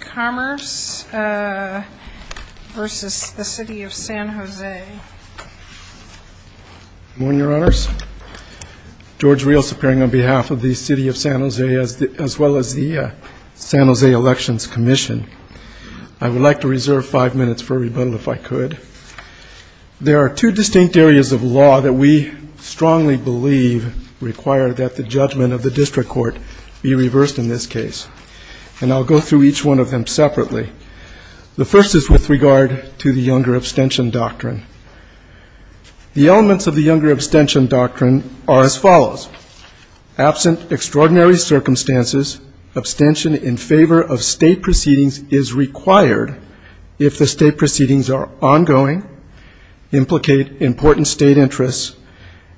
Commerce v. The City of San Jose. Good morning, Your Honors. George Rios appearing on behalf of the City of San Jose as well as the San Jose Elections Commission. I would like to reserve five minutes for rebuttal if I could. There are two distinct areas of law that we strongly believe require that the judgment of the district court be reversed in this case. And I'll go through each one of them separately. The first is with regard to the Younger Abstention Doctrine. The elements of the Younger Abstention Doctrine are as follows. Absent extraordinary circumstances, abstention in favor of state proceedings is required if the state proceedings are ongoing, implicate important state interests,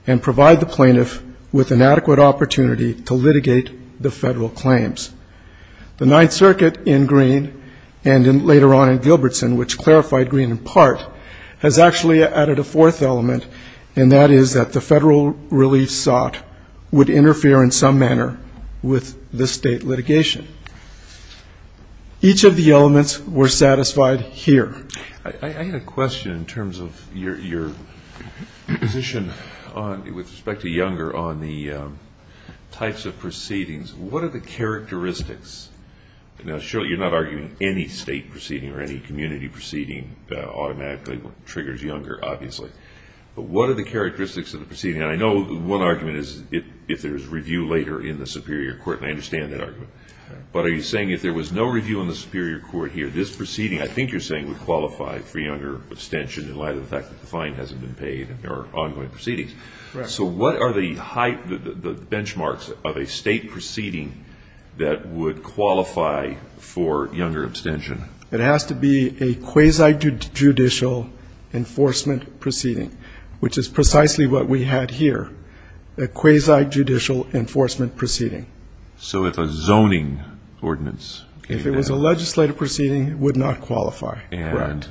and provide the plaintiff with an adequate opportunity to litigate the federal claims. The Ninth Circuit in Greene and later on in Gilbertson, which clarified Greene in part, has actually added a fourth element, and that is that the federal relief sought would interfere in some manner with the state litigation. Each of the elements were satisfied here. I had a question in terms of your position with respect to Younger on the types of proceedings. What are the characteristics? Now, surely you're not arguing any state proceeding or any community proceeding automatically triggers Younger, obviously. But what are the characteristics of the proceeding? And I know one argument is if there's review later in the Superior Court, and I understand that argument. But are you saying if there was no review in the Superior Court here, this proceeding, I think you're saying, would qualify for Younger abstention in light of the fact that the fine hasn't been paid and there are ongoing proceedings? Correct. So what are the benchmarks of a state proceeding that would qualify for Younger abstention? It has to be a quasi-judicial enforcement proceeding, which is precisely what we had here, a quasi-judicial enforcement proceeding. So if a zoning ordinance? If it was a legislative proceeding, it would not qualify. Right.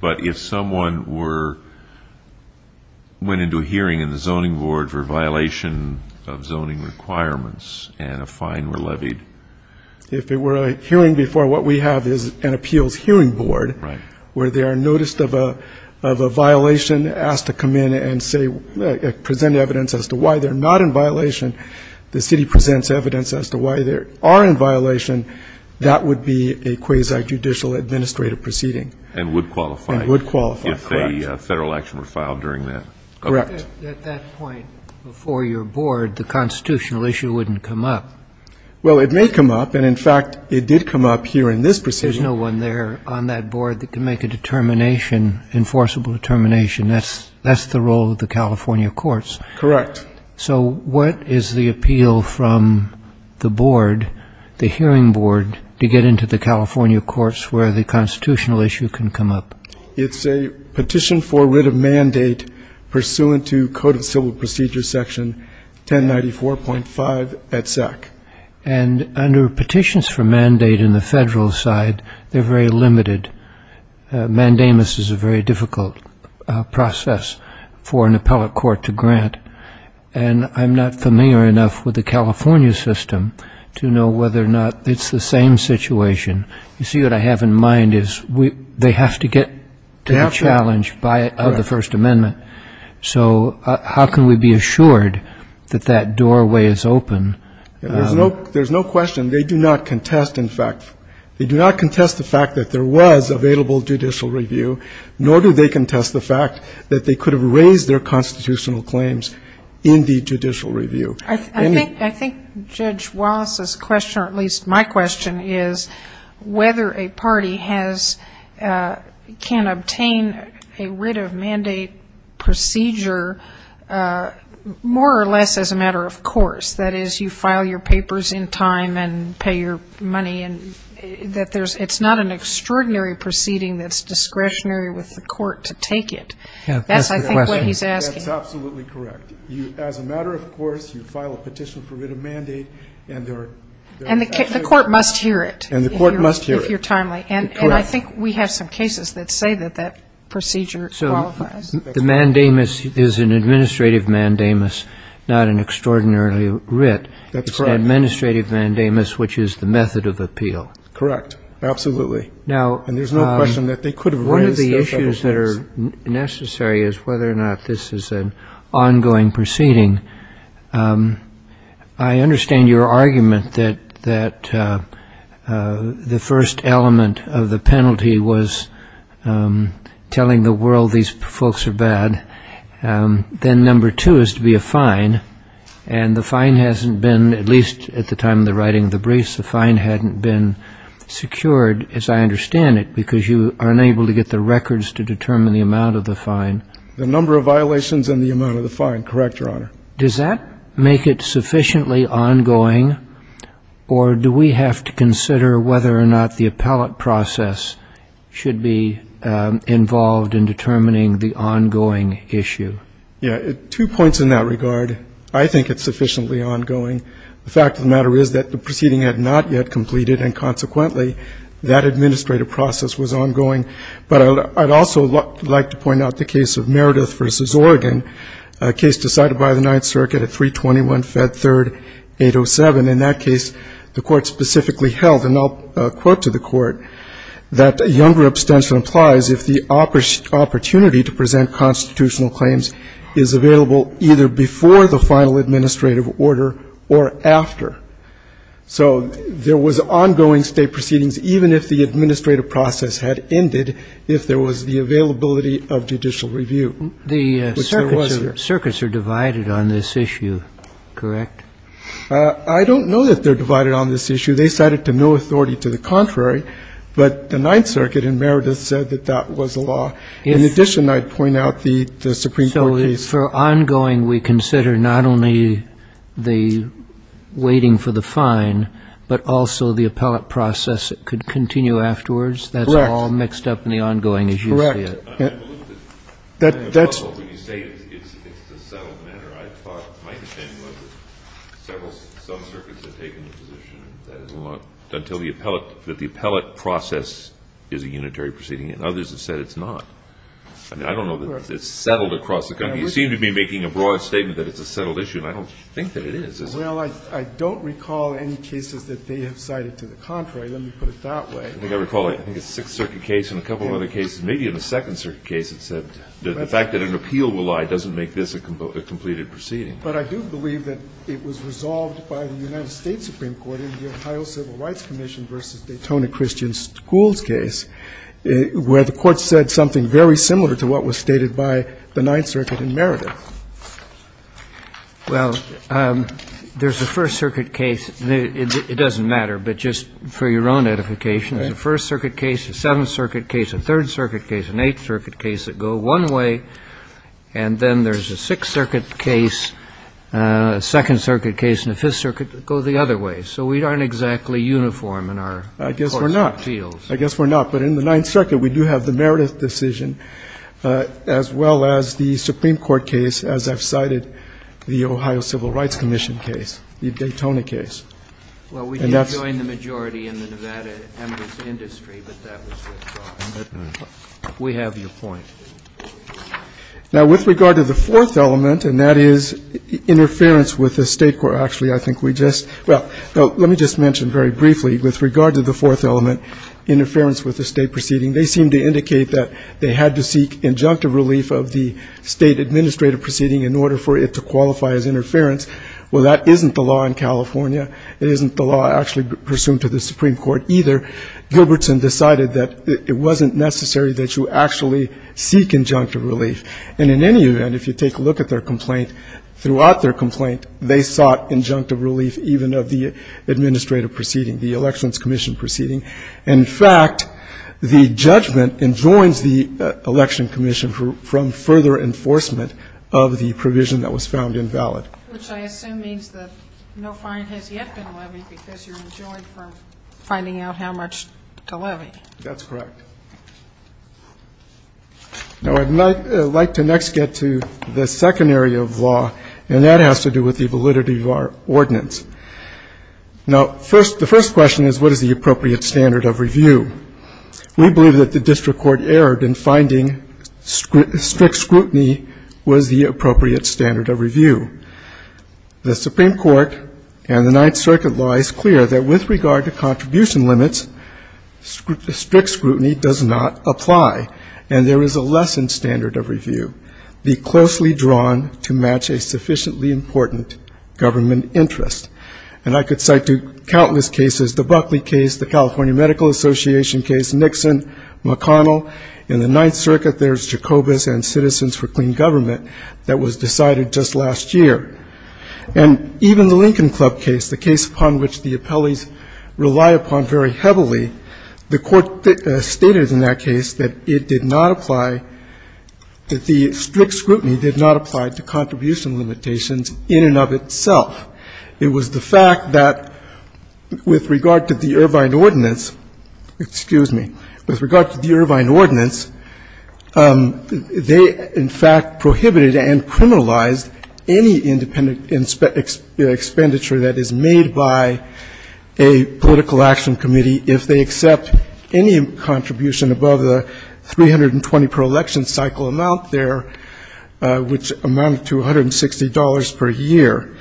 But if someone went into a hearing in the zoning board for a violation of zoning requirements and a fine were levied? If it were a hearing before what we have is an appeals hearing board where they are noticed of a violation, asked to come in and present evidence as to why they're not in violation, the city presents evidence as to why they are in violation, that would be a quasi-judicial administrative proceeding. And would qualify. And would qualify. Correct. If a Federal action were filed during that. Correct. At that point, before your board, the constitutional issue wouldn't come up. Well, it may come up. And in fact, it did come up here in this proceeding. There's no one there on that board that can make a determination, enforceable determination. That's the role of the California courts. Correct. So what is the appeal from the board, the hearing board, to get into the California courts where the constitutional issue can come up? It's a petition for writ of mandate pursuant to Code of Civil Procedure section 1094.5 at SEC. And under petitions for mandate in the Federal side, they're very limited. Mandamus is a very difficult process for an appellate court to grant. And I'm not familiar enough with the California system to know whether or not it's the same situation. You see, what I have in mind is they have to get to the challenge of the First Amendment. So how can we be assured that that doorway is open? There's no question. They do not contest, in fact, they do not contest the fact that there was available judicial review, nor do they contest the fact that they could have raised their constitutional claims in the judicial review. I think Judge Wallace's question, or at least my question, is whether a party has, can obtain a writ of mandate procedure more or less as a matter of course. That is, you file your papers in time and pay your money and that there's, it's not an extraordinary proceeding that's discretionary with the court to take it. That's, I think, what he's asking. That's absolutely correct. You, as a matter of course, you file a petition for writ of mandate and there are... And the court must hear it. And the court must hear it. If you're timely. And I think we have some cases that say that that procedure qualifies. So the mandamus is an administrative mandamus, not an extraordinarily writ. That's correct. It's an administrative mandamus, which is the method of appeal. Correct. Absolutely. And there's no question that they could have raised their constitutional claims. Now, one of the issues that are necessary is whether or not this is an ongoing proceeding. I understand your argument that the first element of the penalty was telling the world these folks are bad. Then number two is to be a fine. And the time of the writing of the briefs, the fine hadn't been secured, as I understand it, because you are unable to get the records to determine the amount of the fine. The number of violations and the amount of the fine. Correct, Your Honor. Does that make it sufficiently ongoing or do we have to consider whether or not the appellate process should be involved in determining the ongoing issue? Yeah. Two points in that regard. I think it's sufficiently ongoing. The fact of the matter is that the proceeding had not yet completed, and consequently, that administrative process was ongoing. But I'd also like to point out the case of Meredith v. Oregon, a case decided by the Ninth Circuit at 321 Fed Third 807. In that case, the Court specifically held, and I'll quote to the Court, that a younger opportunity to present constitutional claims is available either before the final administrative order or after. So there was ongoing state proceedings, even if the administrative process had ended, if there was the availability of judicial review. The circuits are divided on this issue, correct? I don't know that they're divided on this issue. They cited to no authority to the In addition, I'd point out the Supreme Court case. So for ongoing, we consider not only the waiting for the fine, but also the appellate process. It could continue afterwards? That's all mixed up in the ongoing issue? Correct. I'm a little bit puzzled when you say it's a settled matter. I thought it might have been, but some circuits have taken the position that the appellate process is a settled issue. I don't know that it's settled across the country. You seem to be making a broad statement that it's a settled issue, and I don't think that it is. Well, I don't recall any cases that they have cited to the contrary. Let me put it that way. I think I recall a Sixth Circuit case and a couple of other cases, maybe in a Second Circuit case, that said the fact that an appeal will lie doesn't make this a completed proceeding. But I do believe that it was resolved by the United States Supreme Court in the Ohio Civil Rights Commission v. Daytona Christian Schools case, where the Court said something very similar to what was stated by the Ninth Circuit in Meredith. Well, there's a First Circuit case. It doesn't matter, but just for your own edification, there's a First Circuit case, a Seventh Circuit case, a Third Circuit case, an Eighth Circuit case that go one way, and then there's a Sixth Circuit case, a Second Circuit case, and a Fifth Circuit that go the other way. So we aren't exactly uniform in our courts and appeals. I guess we're not. But in the Ninth Circuit, we do have the Meredith decision, as well as the Supreme Court case, as I've cited, the Ohio Civil Rights Commission case, the Daytona case. And that's the case. Well, we didn't join the majority in the Nevada emigrants' industry, but that was the case. We have your point. Now, with regard to the fourth element, and that is interference with the State Court, actually, I think we just – well, let me just mention very briefly, with regard to the fourth element, which is interference with the State proceeding, they seem to indicate that they had to seek injunctive relief of the State administrative proceeding in order for it to qualify as interference. Well, that isn't the law in California. It isn't the law actually pursuant to the Supreme Court either. Gilbertson decided that it wasn't necessary that you actually seek injunctive relief. And in any event, if you take a look at their complaint, throughout their complaint, they sought injunctive relief even of the administrative proceeding, the Elections Commission proceeding. In fact, the judgment enjoins the Election Commission from further enforcement of the provision that was found invalid. Sotomayor, which I assume means that no fine has yet been levied because you're enjoined from finding out how much to levy. That's correct. Now, I'd like to next get to the second area of law, and that has to do with the validity of our ordinance. Now, the first question is, what is the appropriate standard of review? We believe that the district court erred in finding strict scrutiny was the appropriate standard of review. The Supreme Court and the Ninth Circuit law is clear that with regard to jurisdiction, that does not apply. And there is a lessened standard of review. Be closely drawn to match a sufficiently important government interest. And I could cite countless cases, the Buckley case, the California Medical Association case, Nixon, McConnell. In the Ninth Circuit, there's Jacobus and Citizens for Clean Government that was decided just last year. And even the Lincoln Club case, the case upon which the appellees rely upon very heavily, the court stated in that case that it did not apply, that the strict scrutiny did not apply to contribution limitations in and of itself. It was the fact that with regard to the Irvine ordinance, excuse me, with regard to the Irvine ordinance, they, in fact, prohibited and criminalized any independent expenditure that is made by a political action committee if they accept any contribution above the 320 per election cycle amount there, which amounted to $160 per year.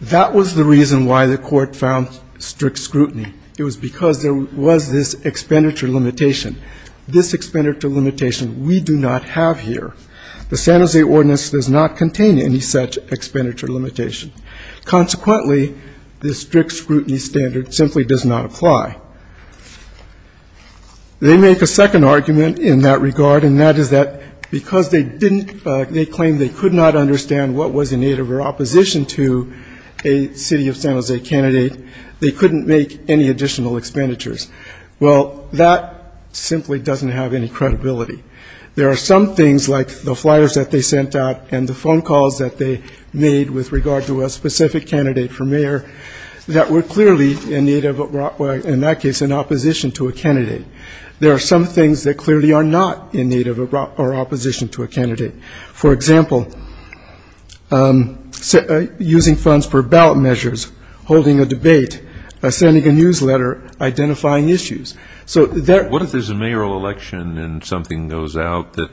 That was the reason why the court found strict scrutiny. It was because there was this expenditure limitation. This expenditure limitation we do not have here. The San Jose ordinance does not contain any such expenditure limitation. Consequently, the strict scrutiny standard simply does not apply. They make a second argument in that regard, and that is that because they didn't, they claimed they could not understand what was in need of their opposition to a city of San Jose candidate, they couldn't make any additional expenditures. Well, that simply doesn't have any credibility. There are some things like the flyers that they sent out and the phone calls that they made with regard to a specific candidate for mayor that were clearly in need of, in that case, in opposition to a candidate. There are some things that clearly are not in need of or opposition to a candidate. For example, using funds for ballot measures, holding a debate, sending a newsletter, identifying issues. What if there's a mayoral election and something goes out that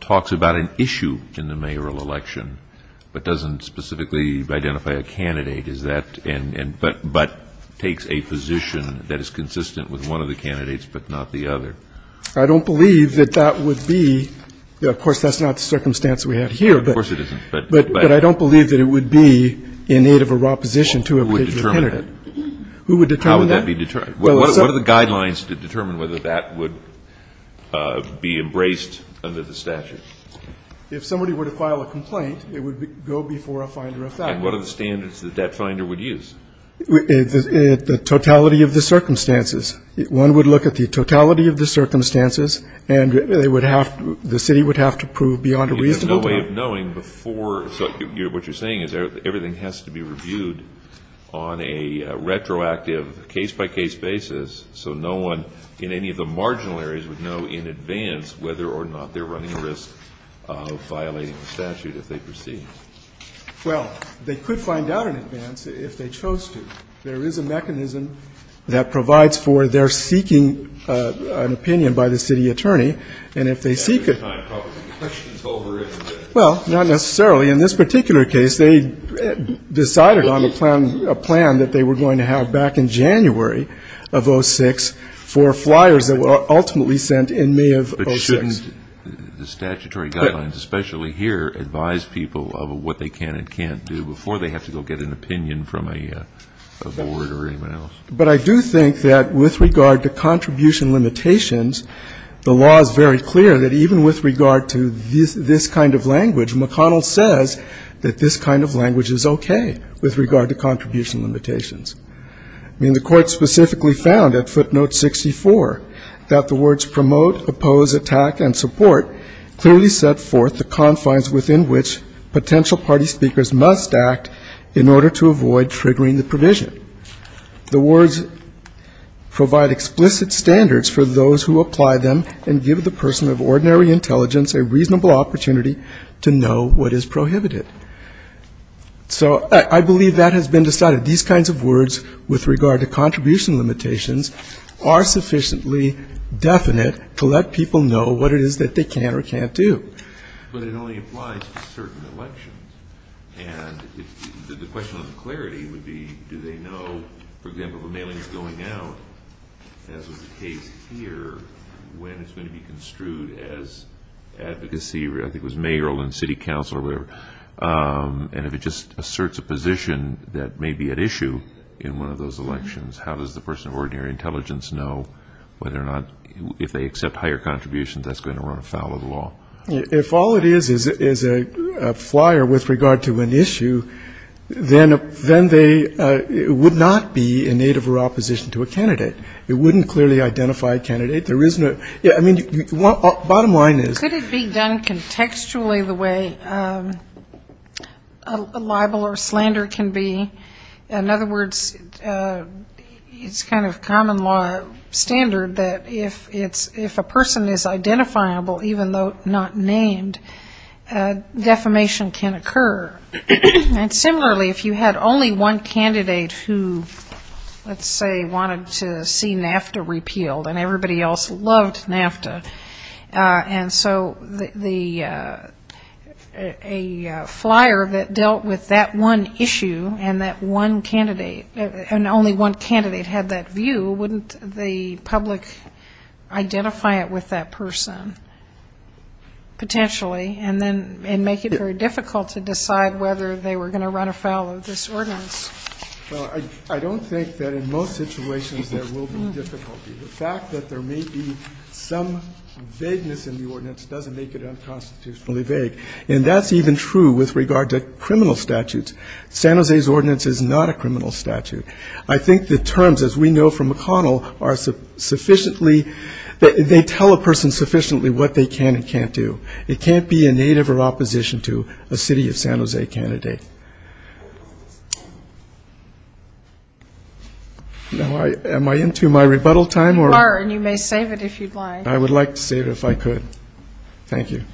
talks about an issue in the mayoral election but doesn't specifically identify a candidate but takes a position that is consistent with one of the candidates but not the other? I don't believe that that would be. Of course, that's not the circumstance we have here. Of course it isn't. But I don't believe that it would be in need of a raw position to a candidate. Who would determine that? Who would determine that? How would that be determined? What are the guidelines to determine whether that would be embraced under the statute? If somebody were to file a complaint, it would go before a finder of facts. And what are the standards that that finder would use? The totality of the circumstances. One would look at the totality of the circumstances and they would have, the city would have to prove beyond a reasonable doubt. There's no way of knowing before, so what you're saying is everything has to be done on a regular basis so no one in any of the marginal areas would know in advance whether or not they're running the risk of violating the statute if they proceed. Well, they could find out in advance if they chose to. There is a mechanism that provides for their seeking an opinion by the city attorney. And if they seek it. Well, not necessarily. In this particular case, they decided on a plan that they were going to have back in January of 06 for flyers that were ultimately sent in May of 06. But shouldn't the statutory guidelines, especially here, advise people of what they can and can't do before they have to go get an opinion from a board or anyone else? But I do think that with regard to contribution limitations, the law is very clear that even with regard to this kind of language, McConnell says that this kind of language is okay with regard to contribution limitations. I mean, the court specifically found at footnote 64 that the words promote, oppose, attack, and support clearly set forth the confines within which potential party speakers must act in order to avoid triggering the provision. The words provide explicit standards for those who apply them and give the person of ordinary intelligence a reasonable opportunity to know what is prohibited. So I believe that has been decided. These kinds of words with regard to contribution limitations are sufficiently definite to let people know what it is that they can or can't do. But it only applies to certain elections. And the question of clarity would be, do they know, for example, if a mailing is going out, as was the case here, when it's going to be construed as advocacy, I think it was mayoral and city council or whatever, and if it just asserts a position that may be at issue in one of those elections, how does the person of ordinary intelligence know whether or not if they accept higher contributions that's going to run afoul of the law? If all it is is a flyer with regard to an issue, then they would not be in need of a raw position to a candidate. It wouldn't clearly identify a candidate. Yeah, I mean, bottom line is... Could it be done contextually the way a libel or slander can be? In other words, it's kind of common law standard that if a person is identifiable, even though not named, defamation can occur. And similarly, if you had only one candidate who, let's say, wanted to see NAFTA repealed and everybody else loved NAFTA, and so a flyer that dealt with that one issue and that one candidate, and only one candidate had that view, wouldn't the public identify it with that person, potentially, and make it very difficult to decide whether they were going to run afoul of this ordinance? Well, I don't think that in most situations there will be difficulty. The fact that there may be some vagueness in the ordinance doesn't make it unconstitutionally vague, and that's even true with regard to criminal statutes. San Jose's ordinance is not a criminal statute. I think the terms, as we know from McConnell, are sufficiently they tell a person sufficiently what they can and can't do. It can't be a native or opposition to a city of San Jose candidate. Now, am I into my rebuttal time, or...? You are, and you may save it if you'd like. I would like to save it if I could. Thank you.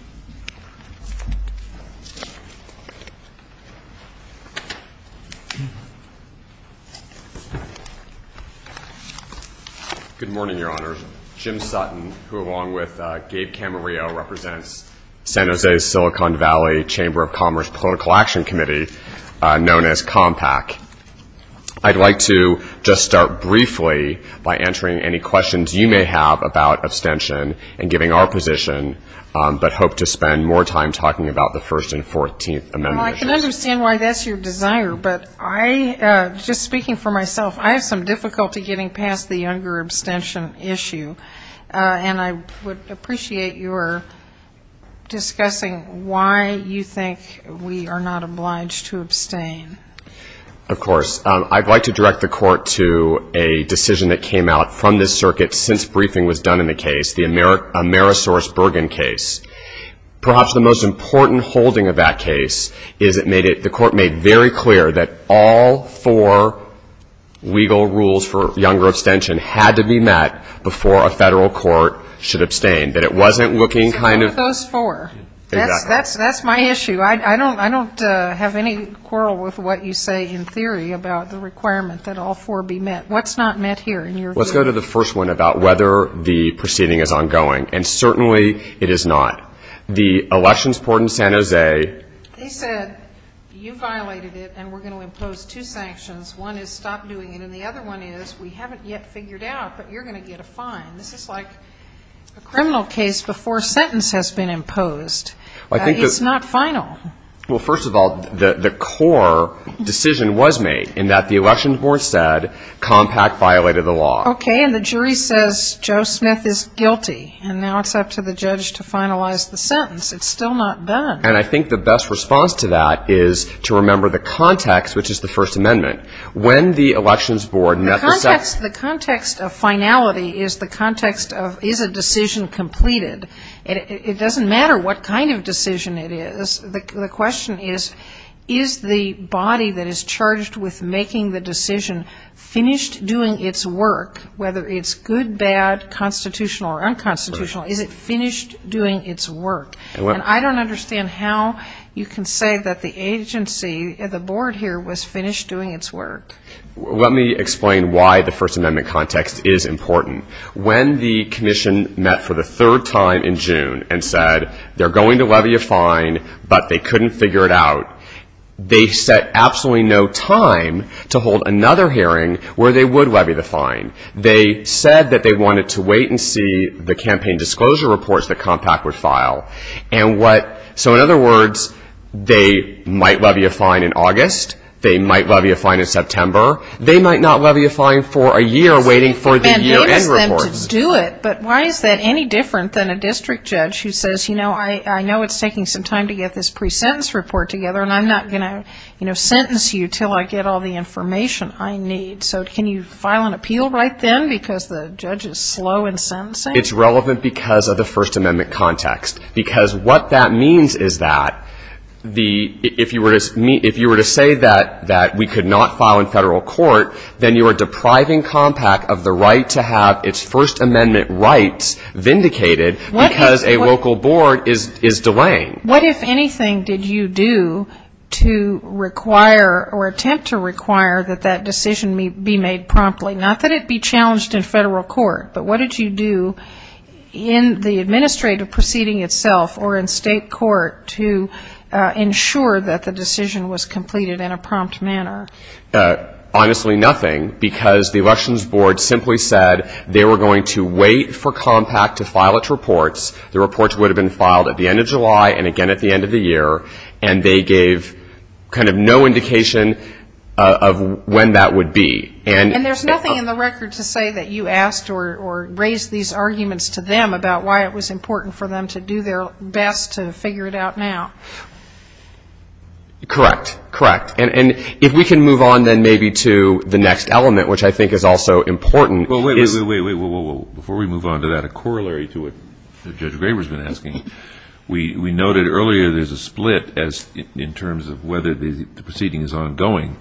Good morning, Your Honors. Jim Sutton, who, along with Gabe Camarillo, represents San Jose's Silicon Valley Chamber of Commerce Political Action Committee, known as COMPAC. I'd like to just start briefly by answering any questions you may have about abstention and giving our position, but hope to spend more time talking about the First and Fourteenth Amendment. Well, I can understand why that's your desire, but I, just speaking for myself, I have some difficulty getting past the younger abstention issue. And I would appreciate your discussing why you think we are not obliged to abstain. Of course. I'd like to direct the Court to a decision that came out from this circuit since briefing was done in the case, the Amerisource Bergen case. Perhaps the most important holding of that case is it made it, the Court made very clear that all four legal rules for younger abstention had to be met before a federal court should abstain, that it wasn't looking kind of... So what are those four? That's my issue. I don't have any quarrel with what you say in theory about the requirement that all four be met. What's not met here in your view? Let's go to the first one about whether the proceeding is ongoing. And certainly it is not. The elections court in San Jose... They said you violated it and we're going to impose two sanctions, one is stop doing it and the other one is we haven't yet figured out, but you're going to get a fine. This is like a criminal case before sentence has been imposed. It's not final. Well, first of all, the core decision was made in that the elections board said Compact violated the law. Okay. And the jury says Joe Smith is guilty and now it's up to the judge to finalize the sentence. It's still not done. And I think the best response to that is to remember the context, which is the First Amendment. When the elections board met the... The context of finality is the context of is a decision completed. It doesn't matter what kind of decision it is. The question is, is the body that is charged with making the decision finished doing its work, whether it's good, bad, constitutional or unconstitutional, is it finished doing its work? And I don't understand how you can say that the agency, the board here, was finished doing its work. Let me explain why the First Amendment context is important. When the commission met for the third time in June and said they're going to levy a fine, but they couldn't figure it out, they set absolutely no time to hold another hearing where they would levy the fine. They said that they wanted to wait and see the campaign disclosure reports the compact would file. So in other words, they might levy a fine in August. They might levy a fine in September. They might not levy a fine for a year waiting for the year-end reports. But why is that any different than a district judge who says, you know, I know it's taking some time to get this pre-sentence report together, and I'm not going to, you know, sentence you until I get all the information I need. So can you file an appeal right then because the judge is slow in sentencing? It's relevant because of the First Amendment context. Because what that means is that if you were to say that we could not file in federal court, then you are depriving compact of the right to have its First Amendment rights vindicated because a local board is delaying. And what, if anything, did you do to require or attempt to require that that decision be made promptly? Not that it be challenged in federal court, but what did you do in the administrative proceeding itself or in state court to ensure that the decision was completed in a prompt manner? Honestly, nothing, because the elections board simply said they were going to wait for compact to file its reports. The reports would have been filed at the end of July and again at the end of the year, and they gave kind of no indication of when that would be. And there's nothing in the record to say that you asked or raised these arguments to them about why it was important for them to do their best to figure it out now. Correct. Correct. And if we can move on then maybe to the next element, which I think is also important. Well, wait, wait, wait, before we move on to that, a corollary to what Judge Graber has been asking. We noted earlier there's a split in terms of whether the proceeding is ongoing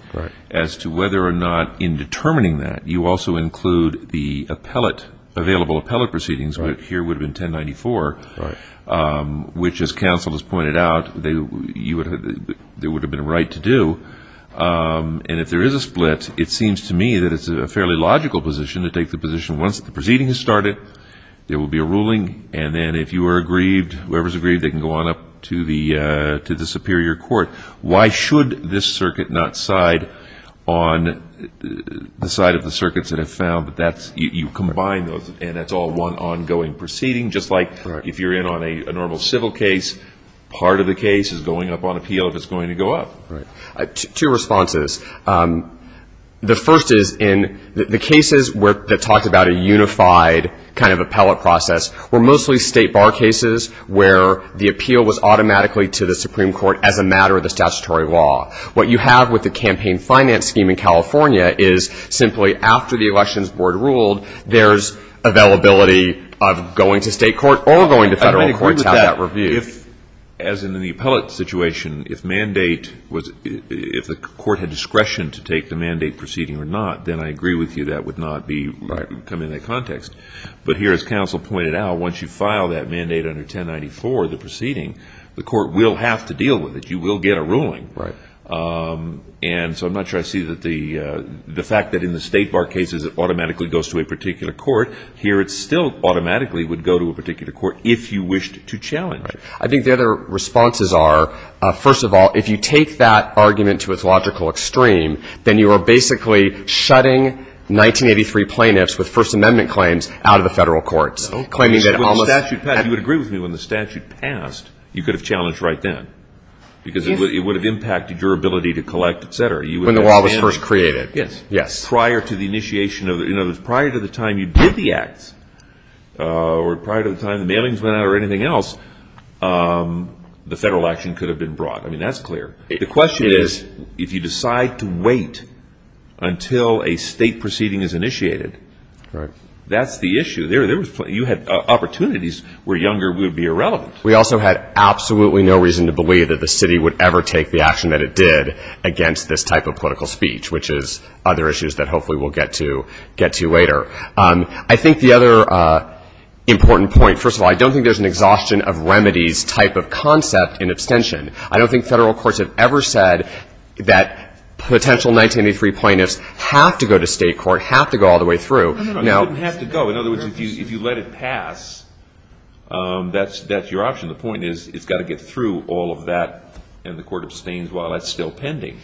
as to whether or not in determining that you also include the appellate, available appellate proceedings, which here would have been 1094, which as counsel has pointed out, there would have been a right to do. And if there is a split, it seems to me that it's a fairly logical position to take the position once the proceeding has started, there will be a ruling, and then if you are aggrieved, whoever is aggrieved, they can go on up to the superior court. Why should this circuit not side on the side of the circuits that have found that you combine those and that's all one ongoing proceeding, just like if you're in on a normal civil case, part of the case is going up on appeal if it's going to go up. Two responses. The first is in the cases that talked about a unified kind of appellate process were mostly state bar cases where the appeal was automatically to the Supreme Court as a matter of the statutory law. What you have with the campaign finance scheme in California is simply after the elections were ruled, there's availability of going to state court or going to federal court to have that review. As in the appellate situation, if mandate was, if the court had discretion to take the mandate proceeding or not, then I agree with you that would not be coming into context. But here as counsel pointed out, once you file that mandate under 1094, the proceeding, the court will have to deal with it. You will get a ruling. And so I'm not sure I see that the fact that in the state bar cases it automatically goes to a particular court. Here it still automatically would go to a particular court if you wished to challenge it. I think the other responses are, first of all, if you take that argument to its logical extreme, then you are basically shutting 1983 plaintiffs with First Amendment claims out of the federal courts. You would agree with me when the statute passed, you could have challenged right then. Because it would have impacted your ability to collect, et cetera. When the law was first created, yes. Prior to the time you did the acts or prior to the time the mailings went out or anything else, the federal action could have been brought. I mean, that's clear. The question is, if you decide to wait until a state proceeding is initiated, that's the issue. You had opportunities where younger would be irrelevant. We also had absolutely no reason to believe that the city would ever take the action that it did against this type of political speech, which is other issues that hopefully we'll get to later. I think the other important point, first of all, I don't think there's an exhaustion of remedies type of concept in abstention. I don't think federal courts have ever said that potential 1983 plaintiffs have to go to state court, have to go all the way through. They didn't have to go. In other words, if you let it pass, that's your option. The point is it's got to get through all of that, and the Court abstains while that's still pending.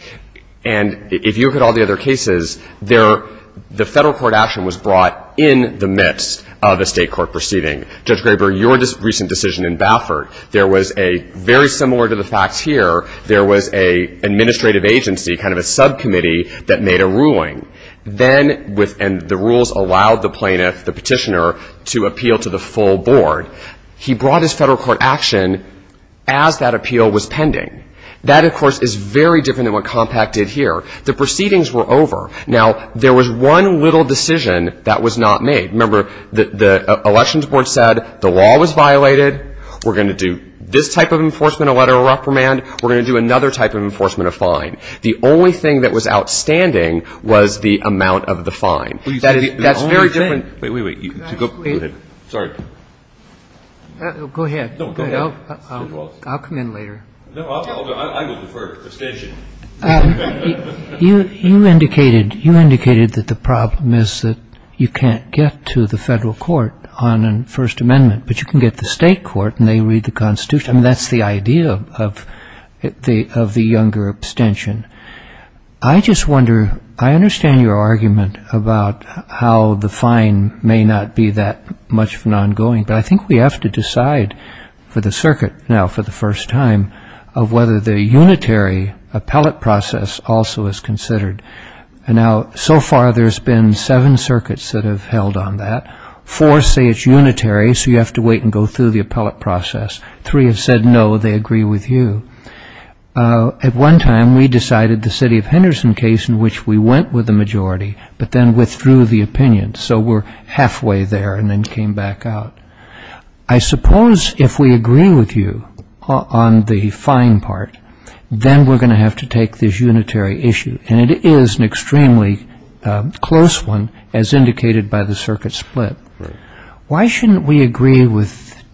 And if you look at all the other cases, the federal court action was brought in the midst of a state court proceeding. Judge Graber, your recent decision in Baffert, there was a very similar to the facts here, there was an administrative agency, kind of a subcommittee that made a ruling. Then the rules allowed the plaintiff, the petitioner, to appeal to the full board. He brought his federal court action as that appeal was pending. That, of course, is very different than what Compact did here. The proceedings were over. Now, there was one little decision that was not made. Remember, the elections board said the law was violated, we're going to do this type of enforcement, a letter of reprimand, we're going to do another type of enforcement, a fine. The only thing that was outstanding was the amount of the fine. That's very different. Wait, wait, wait. Go ahead. Sorry. Go ahead. No, go ahead. I'll come in later. No, I will defer abstention. You indicated that the problem is that you can't get to the federal court on a First Amendment, but you can get the state court and they read the Constitution. That's the idea of the younger abstention. I just wonder, I understand your argument about how the fine may not be that much of an ongoing, but I think we have to decide for the circuit now for the first time of whether the unitary appellate process also is considered. And now, so far, there's been seven circuits that have held on that. Four say it's unitary, so you have to wait and go through the appellate process. Three have said no, they agree with you. At one time, we decided the city of Henderson case in which we went with the majority, but then withdrew the opinion, so we're halfway there and then came back out. I suppose if we agree with you on the fine part, then we're going to have to take this unitary issue, and it is an extremely close one, as indicated by the circuit split. Why shouldn't we agree with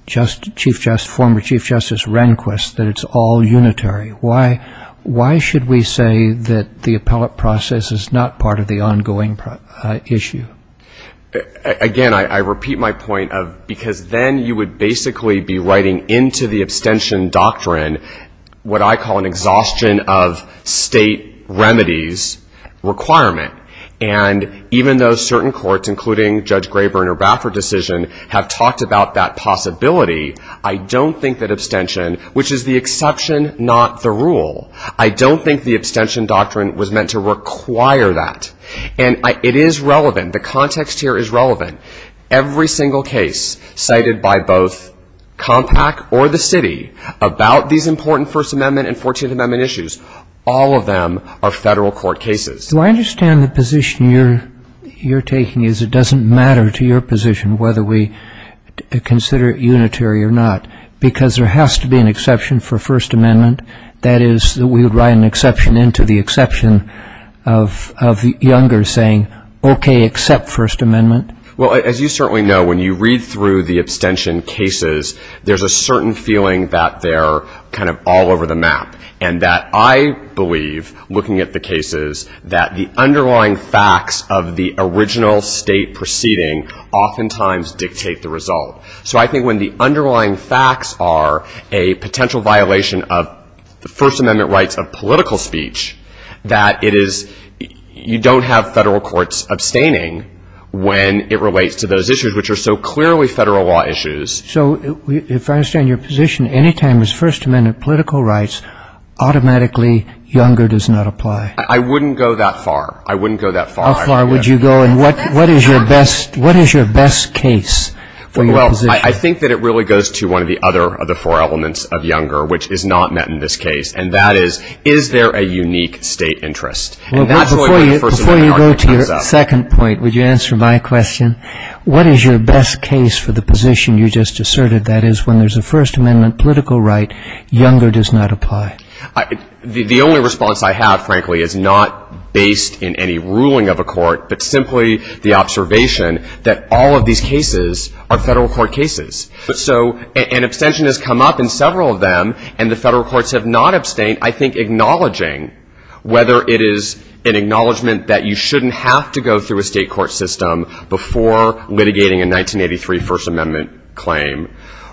former Chief Justice Rehnquist that it's all unitary? Why should we say that the appellate process is not part of the ongoing issue? Again, I repeat my point of because then you would basically be writing into the abstention doctrine what I call an exhaustion of state remedies requirement. And even though certain courts, including Judge Graber and her Baffert decision, have talked about that possibility, I don't think that abstention, which is the exception, not the rule. I don't think the abstention doctrine was meant to require that. And it is relevant. The context here is relevant. Every single case cited by both Compact or the city about these important First Amendment and 14th Amendment issues, all of them are federal court cases. Do I understand the position you're taking is it doesn't matter to your position whether we consider it unitary or not because there has to be an exception for First Amendment? That is, that we would write an exception into the exception of the younger saying, okay, accept First Amendment? Well, as you certainly know, when you read through the abstention cases, there's a certain feeling that they're kind of all over the map and that I believe, looking at the cases, that the underlying facts of the original State proceeding oftentimes dictate the result. So I think when the underlying facts are a potential violation of the First Amendment rights of political speech, that it is you don't have Federal courts abstaining when it relates to those issues, which are so clearly Federal law issues. So if I understand your position, anytime it's First Amendment political rights, automatically younger does not apply? I wouldn't go that far. I wouldn't go that far. How far would you go? And what is your best case for your position? Well, I think that it really goes to one of the other four elements of younger, which is not met in this case, and that is, is there a unique State interest? Before you go to your second point, would you answer my question? What is your best case for the position you just asserted? That is, when there's a First Amendment political right, younger does not apply. The only response I have, frankly, is not based in any ruling of a court, but simply the observation that all of these cases are Federal court cases. So an abstention has come up in several of them, and the Federal courts have not abstained, I think acknowledging whether it is an acknowledgment that you shouldn't have to go through a State court system before litigating a 1983 First Amendment claim,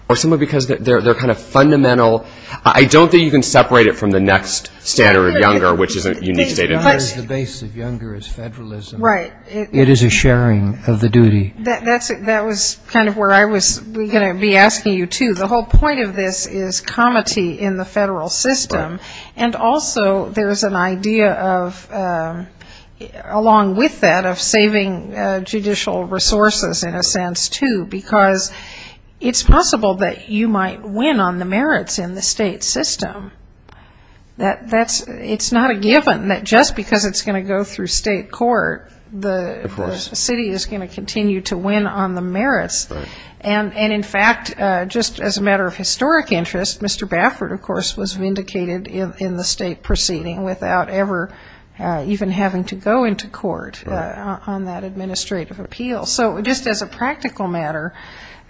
or simply because they're kind of fundamental. I don't think you can separate it from the next standard of younger, which is a unique State interest. It is not as the base of younger as Federalism. Right. It is a sharing of the duty. That was kind of where I was going to be asking you, too. The whole point of this is comity in the Federal system, and also there's an idea of, along with that, of saving judicial resources in a sense, too, because it's possible that you might win on the merits in the State system. It's not a given that just because it's going to go through State court, the city is going to continue to win on the merits. Right. And, in fact, just as a matter of historic interest, Mr. Baffert, of course, was vindicated in the State proceeding without ever even having to go into court on that administrative appeal. So just as a practical matter,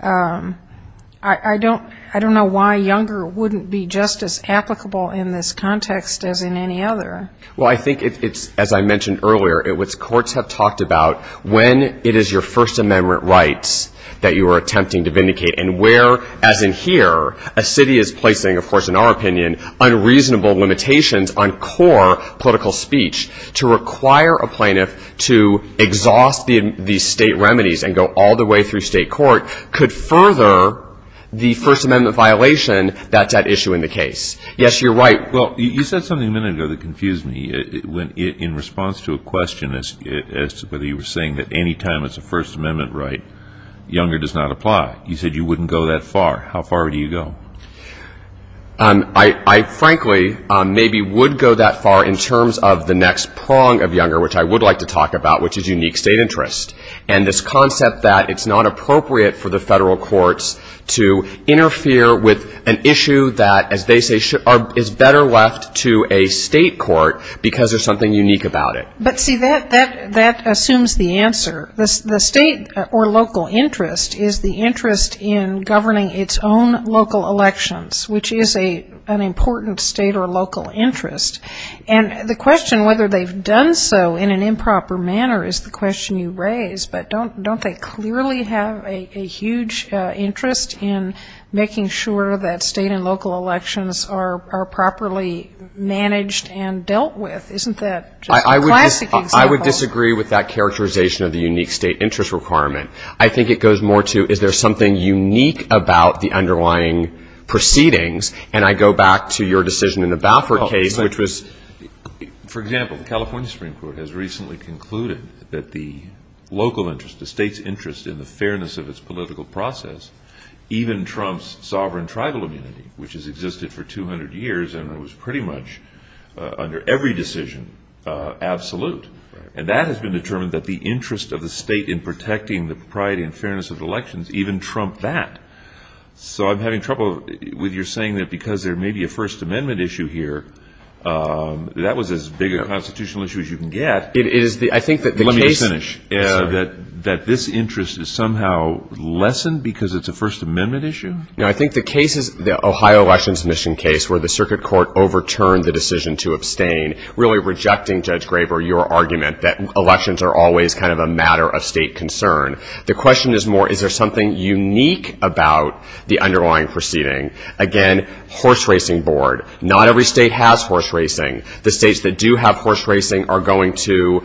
I don't know why younger wouldn't be just as applicable in this context as in any other. Well, I think it's, as I mentioned earlier, courts have talked about when it is your First Amendment rights that you are attempting to vindicate, and where, as in here, a city is placing, of course, in our opinion, unreasonable limitations on core political speech, to require a plaintiff to exhaust the State remedies and go all the way through State court could further the First Amendment violation that's at issue in the case. Yes, you're right. Well, you said something a minute ago that confused me. In response to a question as to whether you were saying that anytime it's a First Amendment right, younger does not apply. You said you wouldn't go that far. How far do you go? I frankly maybe would go that far in terms of the next prong of younger, which I would like to talk about, which is unique State interest, and this concept that it's not appropriate for the Federal courts to interfere with an issue that, as they say, is better left to a State court because there's something unique about it. But, see, that assumes the answer. The State or local interest is the interest in governing its own local elections, which is an important State or local interest. And the question whether they've done so in an improper manner is the question you raise, but don't they clearly have a huge interest in making sure that State and local elections are properly managed and dealt with? Isn't that just a classic example? I agree with that characterization of the unique State interest requirement. I think it goes more to is there something unique about the underlying proceedings? And I go back to your decision in the Baffert case, which was ‑‑ For example, the California Supreme Court has recently concluded that the local interest, the State's interest in the fairness of its political process, even trumps sovereign tribal immunity, which has existed for 200 years and was pretty much under every decision absolute. And that has been determined that the interest of the State in protecting the propriety and fairness of elections even trump that. So I'm having trouble with your saying that because there may be a First Amendment issue here, that was as big a constitutional issue as you can get. Let me just finish. So that this interest is somehow lessened because it's a First Amendment issue? No, I think the case is the Ohio elections mission case where the circuit court overturned the decision to abstain, really rejecting, Judge Graber, your argument that elections are always kind of a matter of State concern. The question is more is there something unique about the underlying proceeding? Again, horse racing board. Not every State has horse racing. The States that do have horse racing are going to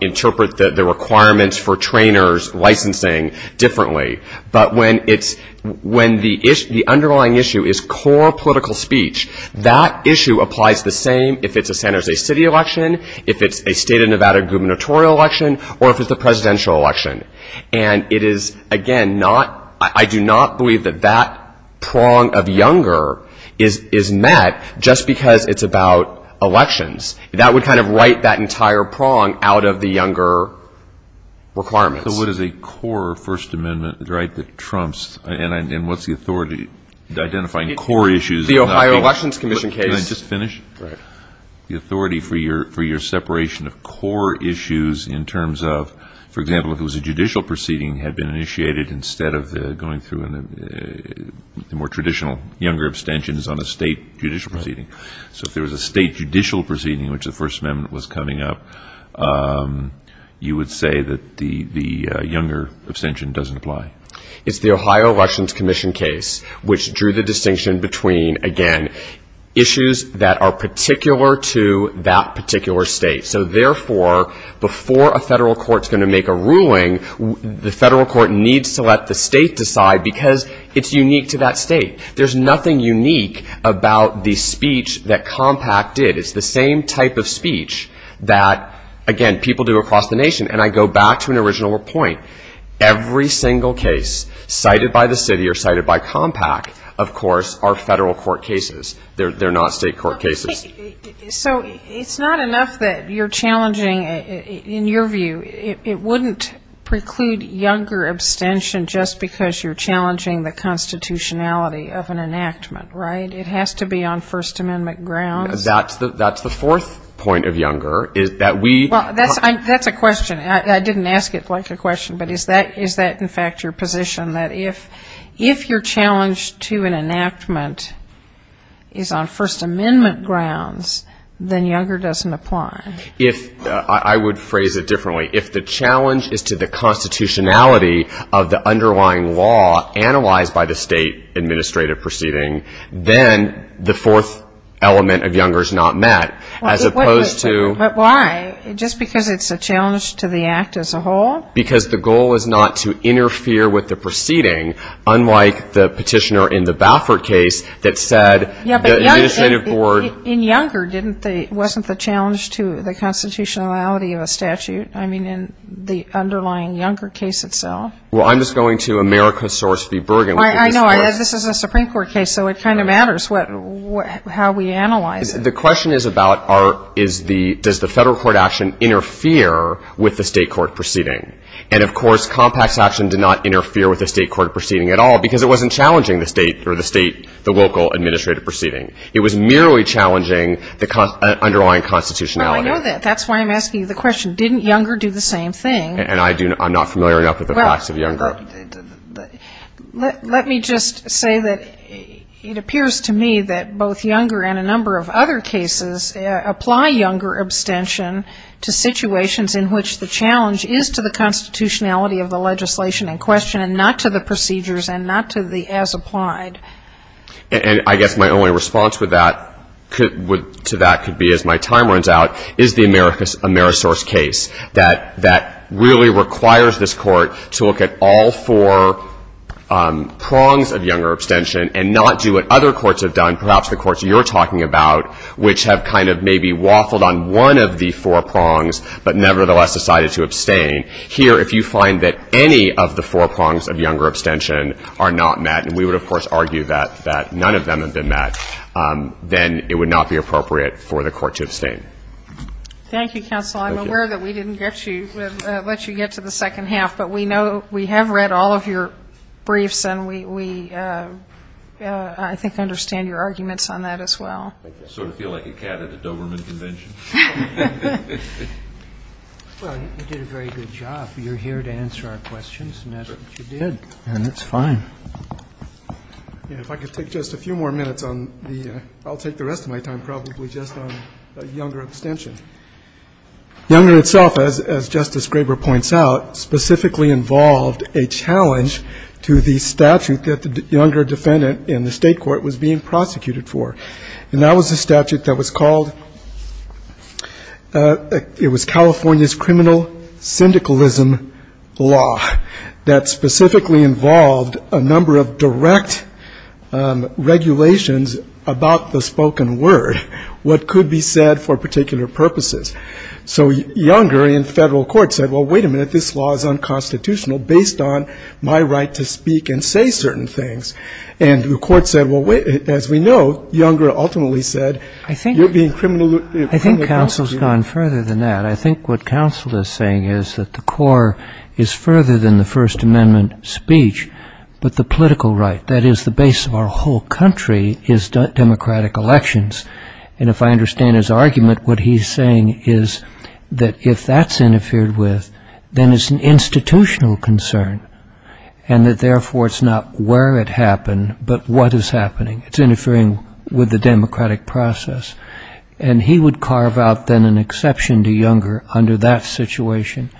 interpret the requirements for trainers licensing differently. But when the underlying issue is core political speech, that issue applies the same if it's a San Jose City election, if it's a State of Nevada gubernatorial election, or if it's a presidential election. And it is, again, not ñ I do not believe that that prong of younger is met just because it's about elections. That would kind of write that entire prong out of the younger requirements. So what is a core First Amendment right that trumps And what's the authority identifying core issues? The Ohio elections commission case. Can I just finish? Right. The authority for your separation of core issues in terms of, for example, if it was a judicial proceeding had been initiated instead of going through the more traditional younger abstentions on a State judicial proceeding. So if there was a State judicial proceeding in which the First Amendment was coming up, you would say that the younger abstention doesn't apply. It's the Ohio elections commission case which drew the distinction between, again, issues that are particular to that particular State. So therefore, before a federal court is going to make a ruling, the federal court needs to let the State decide because it's unique to that State. There's nothing unique about the speech that Compact did. It's the same type of speech that, again, people do across the nation. And I go back to an original point. Every single case cited by the city or cited by Compact, of course, are federal court cases. They're not State court cases. So it's not enough that you're challenging, in your view, it wouldn't preclude younger abstention just because you're challenging the constitutionality of an enactment, right? It has to be on First Amendment grounds. That's the fourth point of younger, is that we That's a question. I didn't ask it like a question, but is that, in fact, your position, that if your challenge to an enactment is on First Amendment grounds, then younger doesn't apply? I would phrase it differently. If the challenge is to the constitutionality of the underlying law analyzed by the State administrative proceeding, then the fourth element of younger is not met, as opposed to But why? Just because it's a challenge to the act as a whole? Because the goal is not to interfere with the proceeding, unlike the petitioner in the Baffert case that said the administrative board Yeah, but in younger, wasn't the challenge to the constitutionality of a statute? I mean, in the underlying younger case itself? Well, I'm just going to America source v. Bergen. I know. This is a Supreme Court case, so it kind of matters how we analyze it. The question is about does the Federal court action interfere with the State court proceeding? And, of course, compact action did not interfere with the State court proceeding at all because it wasn't challenging the State or the State, the local administrative proceeding. It was merely challenging the underlying constitutionality. Well, I know that. That's why I'm asking you the question. Didn't younger do the same thing? And I'm not familiar enough with the facts of younger. Let me just say that it appears to me that both younger and a number of other cases apply younger abstention to situations in which the challenge is to the constitutionality of the legislation in question and not to the procedures and not to the as applied. And I guess my only response to that could be, as my time runs out, is the America source case. That really requires this Court to look at all four prongs of younger abstention and not do what other courts have done, perhaps the courts you're talking about, which have kind of maybe waffled on one of the four prongs but nevertheless decided to abstain. Here, if you find that any of the four prongs of younger abstention are not met, and we would, of course, argue that none of them have been met, then it would not be appropriate for the Court to abstain. Thank you, counsel. I'm aware that we didn't let you get to the second half, but we know we have read all of your briefs and we, I think, understand your arguments on that as well. I sort of feel like a cat at a Doberman convention. Well, you did a very good job. You're here to answer our questions, and that's what you did. And that's fine. If I could take just a few more minutes on the ‑‑ Younger itself, as Justice Graber points out, specifically involved a challenge to the statute that the younger defendant in the State court was being prosecuted for, and that was a statute that was called ‑‑ it was California's criminal syndicalism law that specifically involved a number of direct regulations about the spoken word, what could be said for particular purposes. So Younger in federal court said, well, wait a minute, this law is unconstitutional based on my right to speak and say certain things. And the Court said, well, as we know, Younger ultimately said you're being criminally ‑‑ I think counsel has gone further than that. I think what counsel is saying is that the core is further than the First Amendment speech, but the political right, that is, the base of our whole country is democratic elections. And if I understand his argument, what he's saying is that if that's interfered with, then it's an institutional concern, and that therefore it's not where it happened, but what is happening. It's interfering with the democratic process. And he would carve out then an exception to Younger under that situation.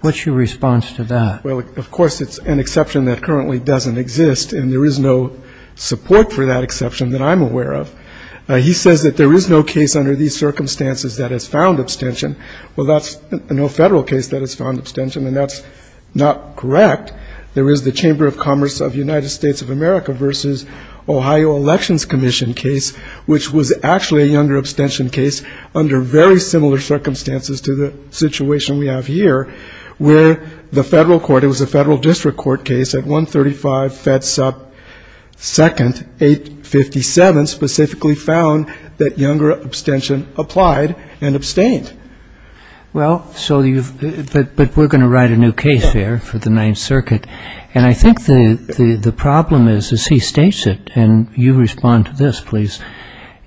What's your response to that? Well, of course it's an exception that currently doesn't exist, and there is no support for that exception that I'm aware of. He says that there is no case under these circumstances that has found abstention. Well, that's no federal case that has found abstention, and that's not correct. There is the Chamber of Commerce of the United States of America versus Ohio Elections Commission case, which was actually a Younger abstention case under very similar circumstances to the situation we have here, where the federal court, it was a federal district court case at 135 Fedsup 2nd, 857, specifically found that Younger abstention applied and abstained. Well, but we're going to write a new case here for the Ninth Circuit. And I think the problem is, as he states it, and you respond to this, please,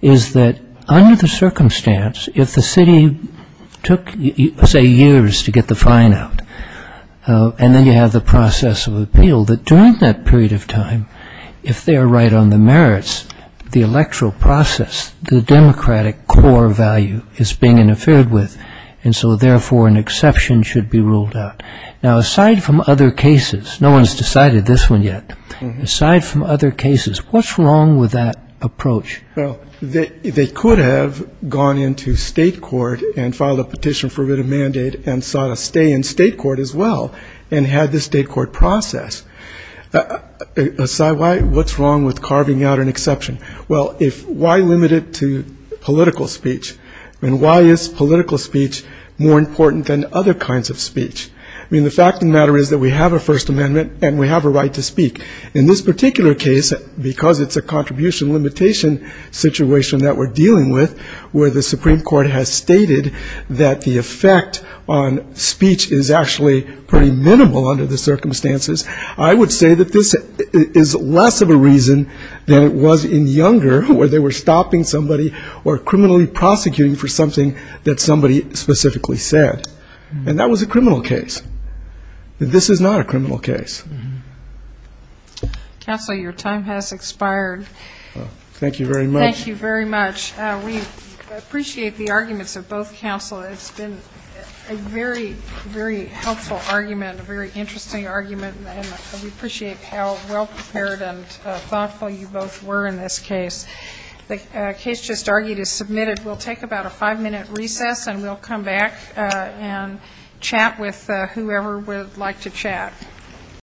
is that under the circumstance, if the city took, say, years to get the fine out and then you have the process of appeal, that during that period of time, if they are right on the merits, the electoral process, the democratic core value is being interfered with, and so therefore an exception should be ruled out. Now, aside from other cases, no one has decided this one yet, aside from other cases, what's wrong with that approach? Well, they could have gone into state court and filed a petition for writ of mandate and sought a stay in state court as well and had the state court process. What's wrong with carving out an exception? Well, why limit it to political speech? I mean, why is political speech more important than other kinds of speech? I mean, the fact of the matter is that we have a First Amendment and we have a right to speak. In this particular case, because it's a contribution limitation situation that we're dealing with where the Supreme Court has stated that the effect on speech is actually pretty minimal under the circumstances, I would say that this is less of a reason than it was in Younger where they were stopping somebody or criminally prosecuting for something that somebody specifically said. And that was a criminal case. This is not a criminal case. Counsel, your time has expired. Thank you very much. Thank you very much. We appreciate the arguments of both counsel. It's been a very, very helpful argument, a very interesting argument, and we appreciate how well prepared and thoughtful you both were in this case. The case just argued is submitted. We'll take about a five-minute recess, and we'll come back and chat with whoever would like to chat.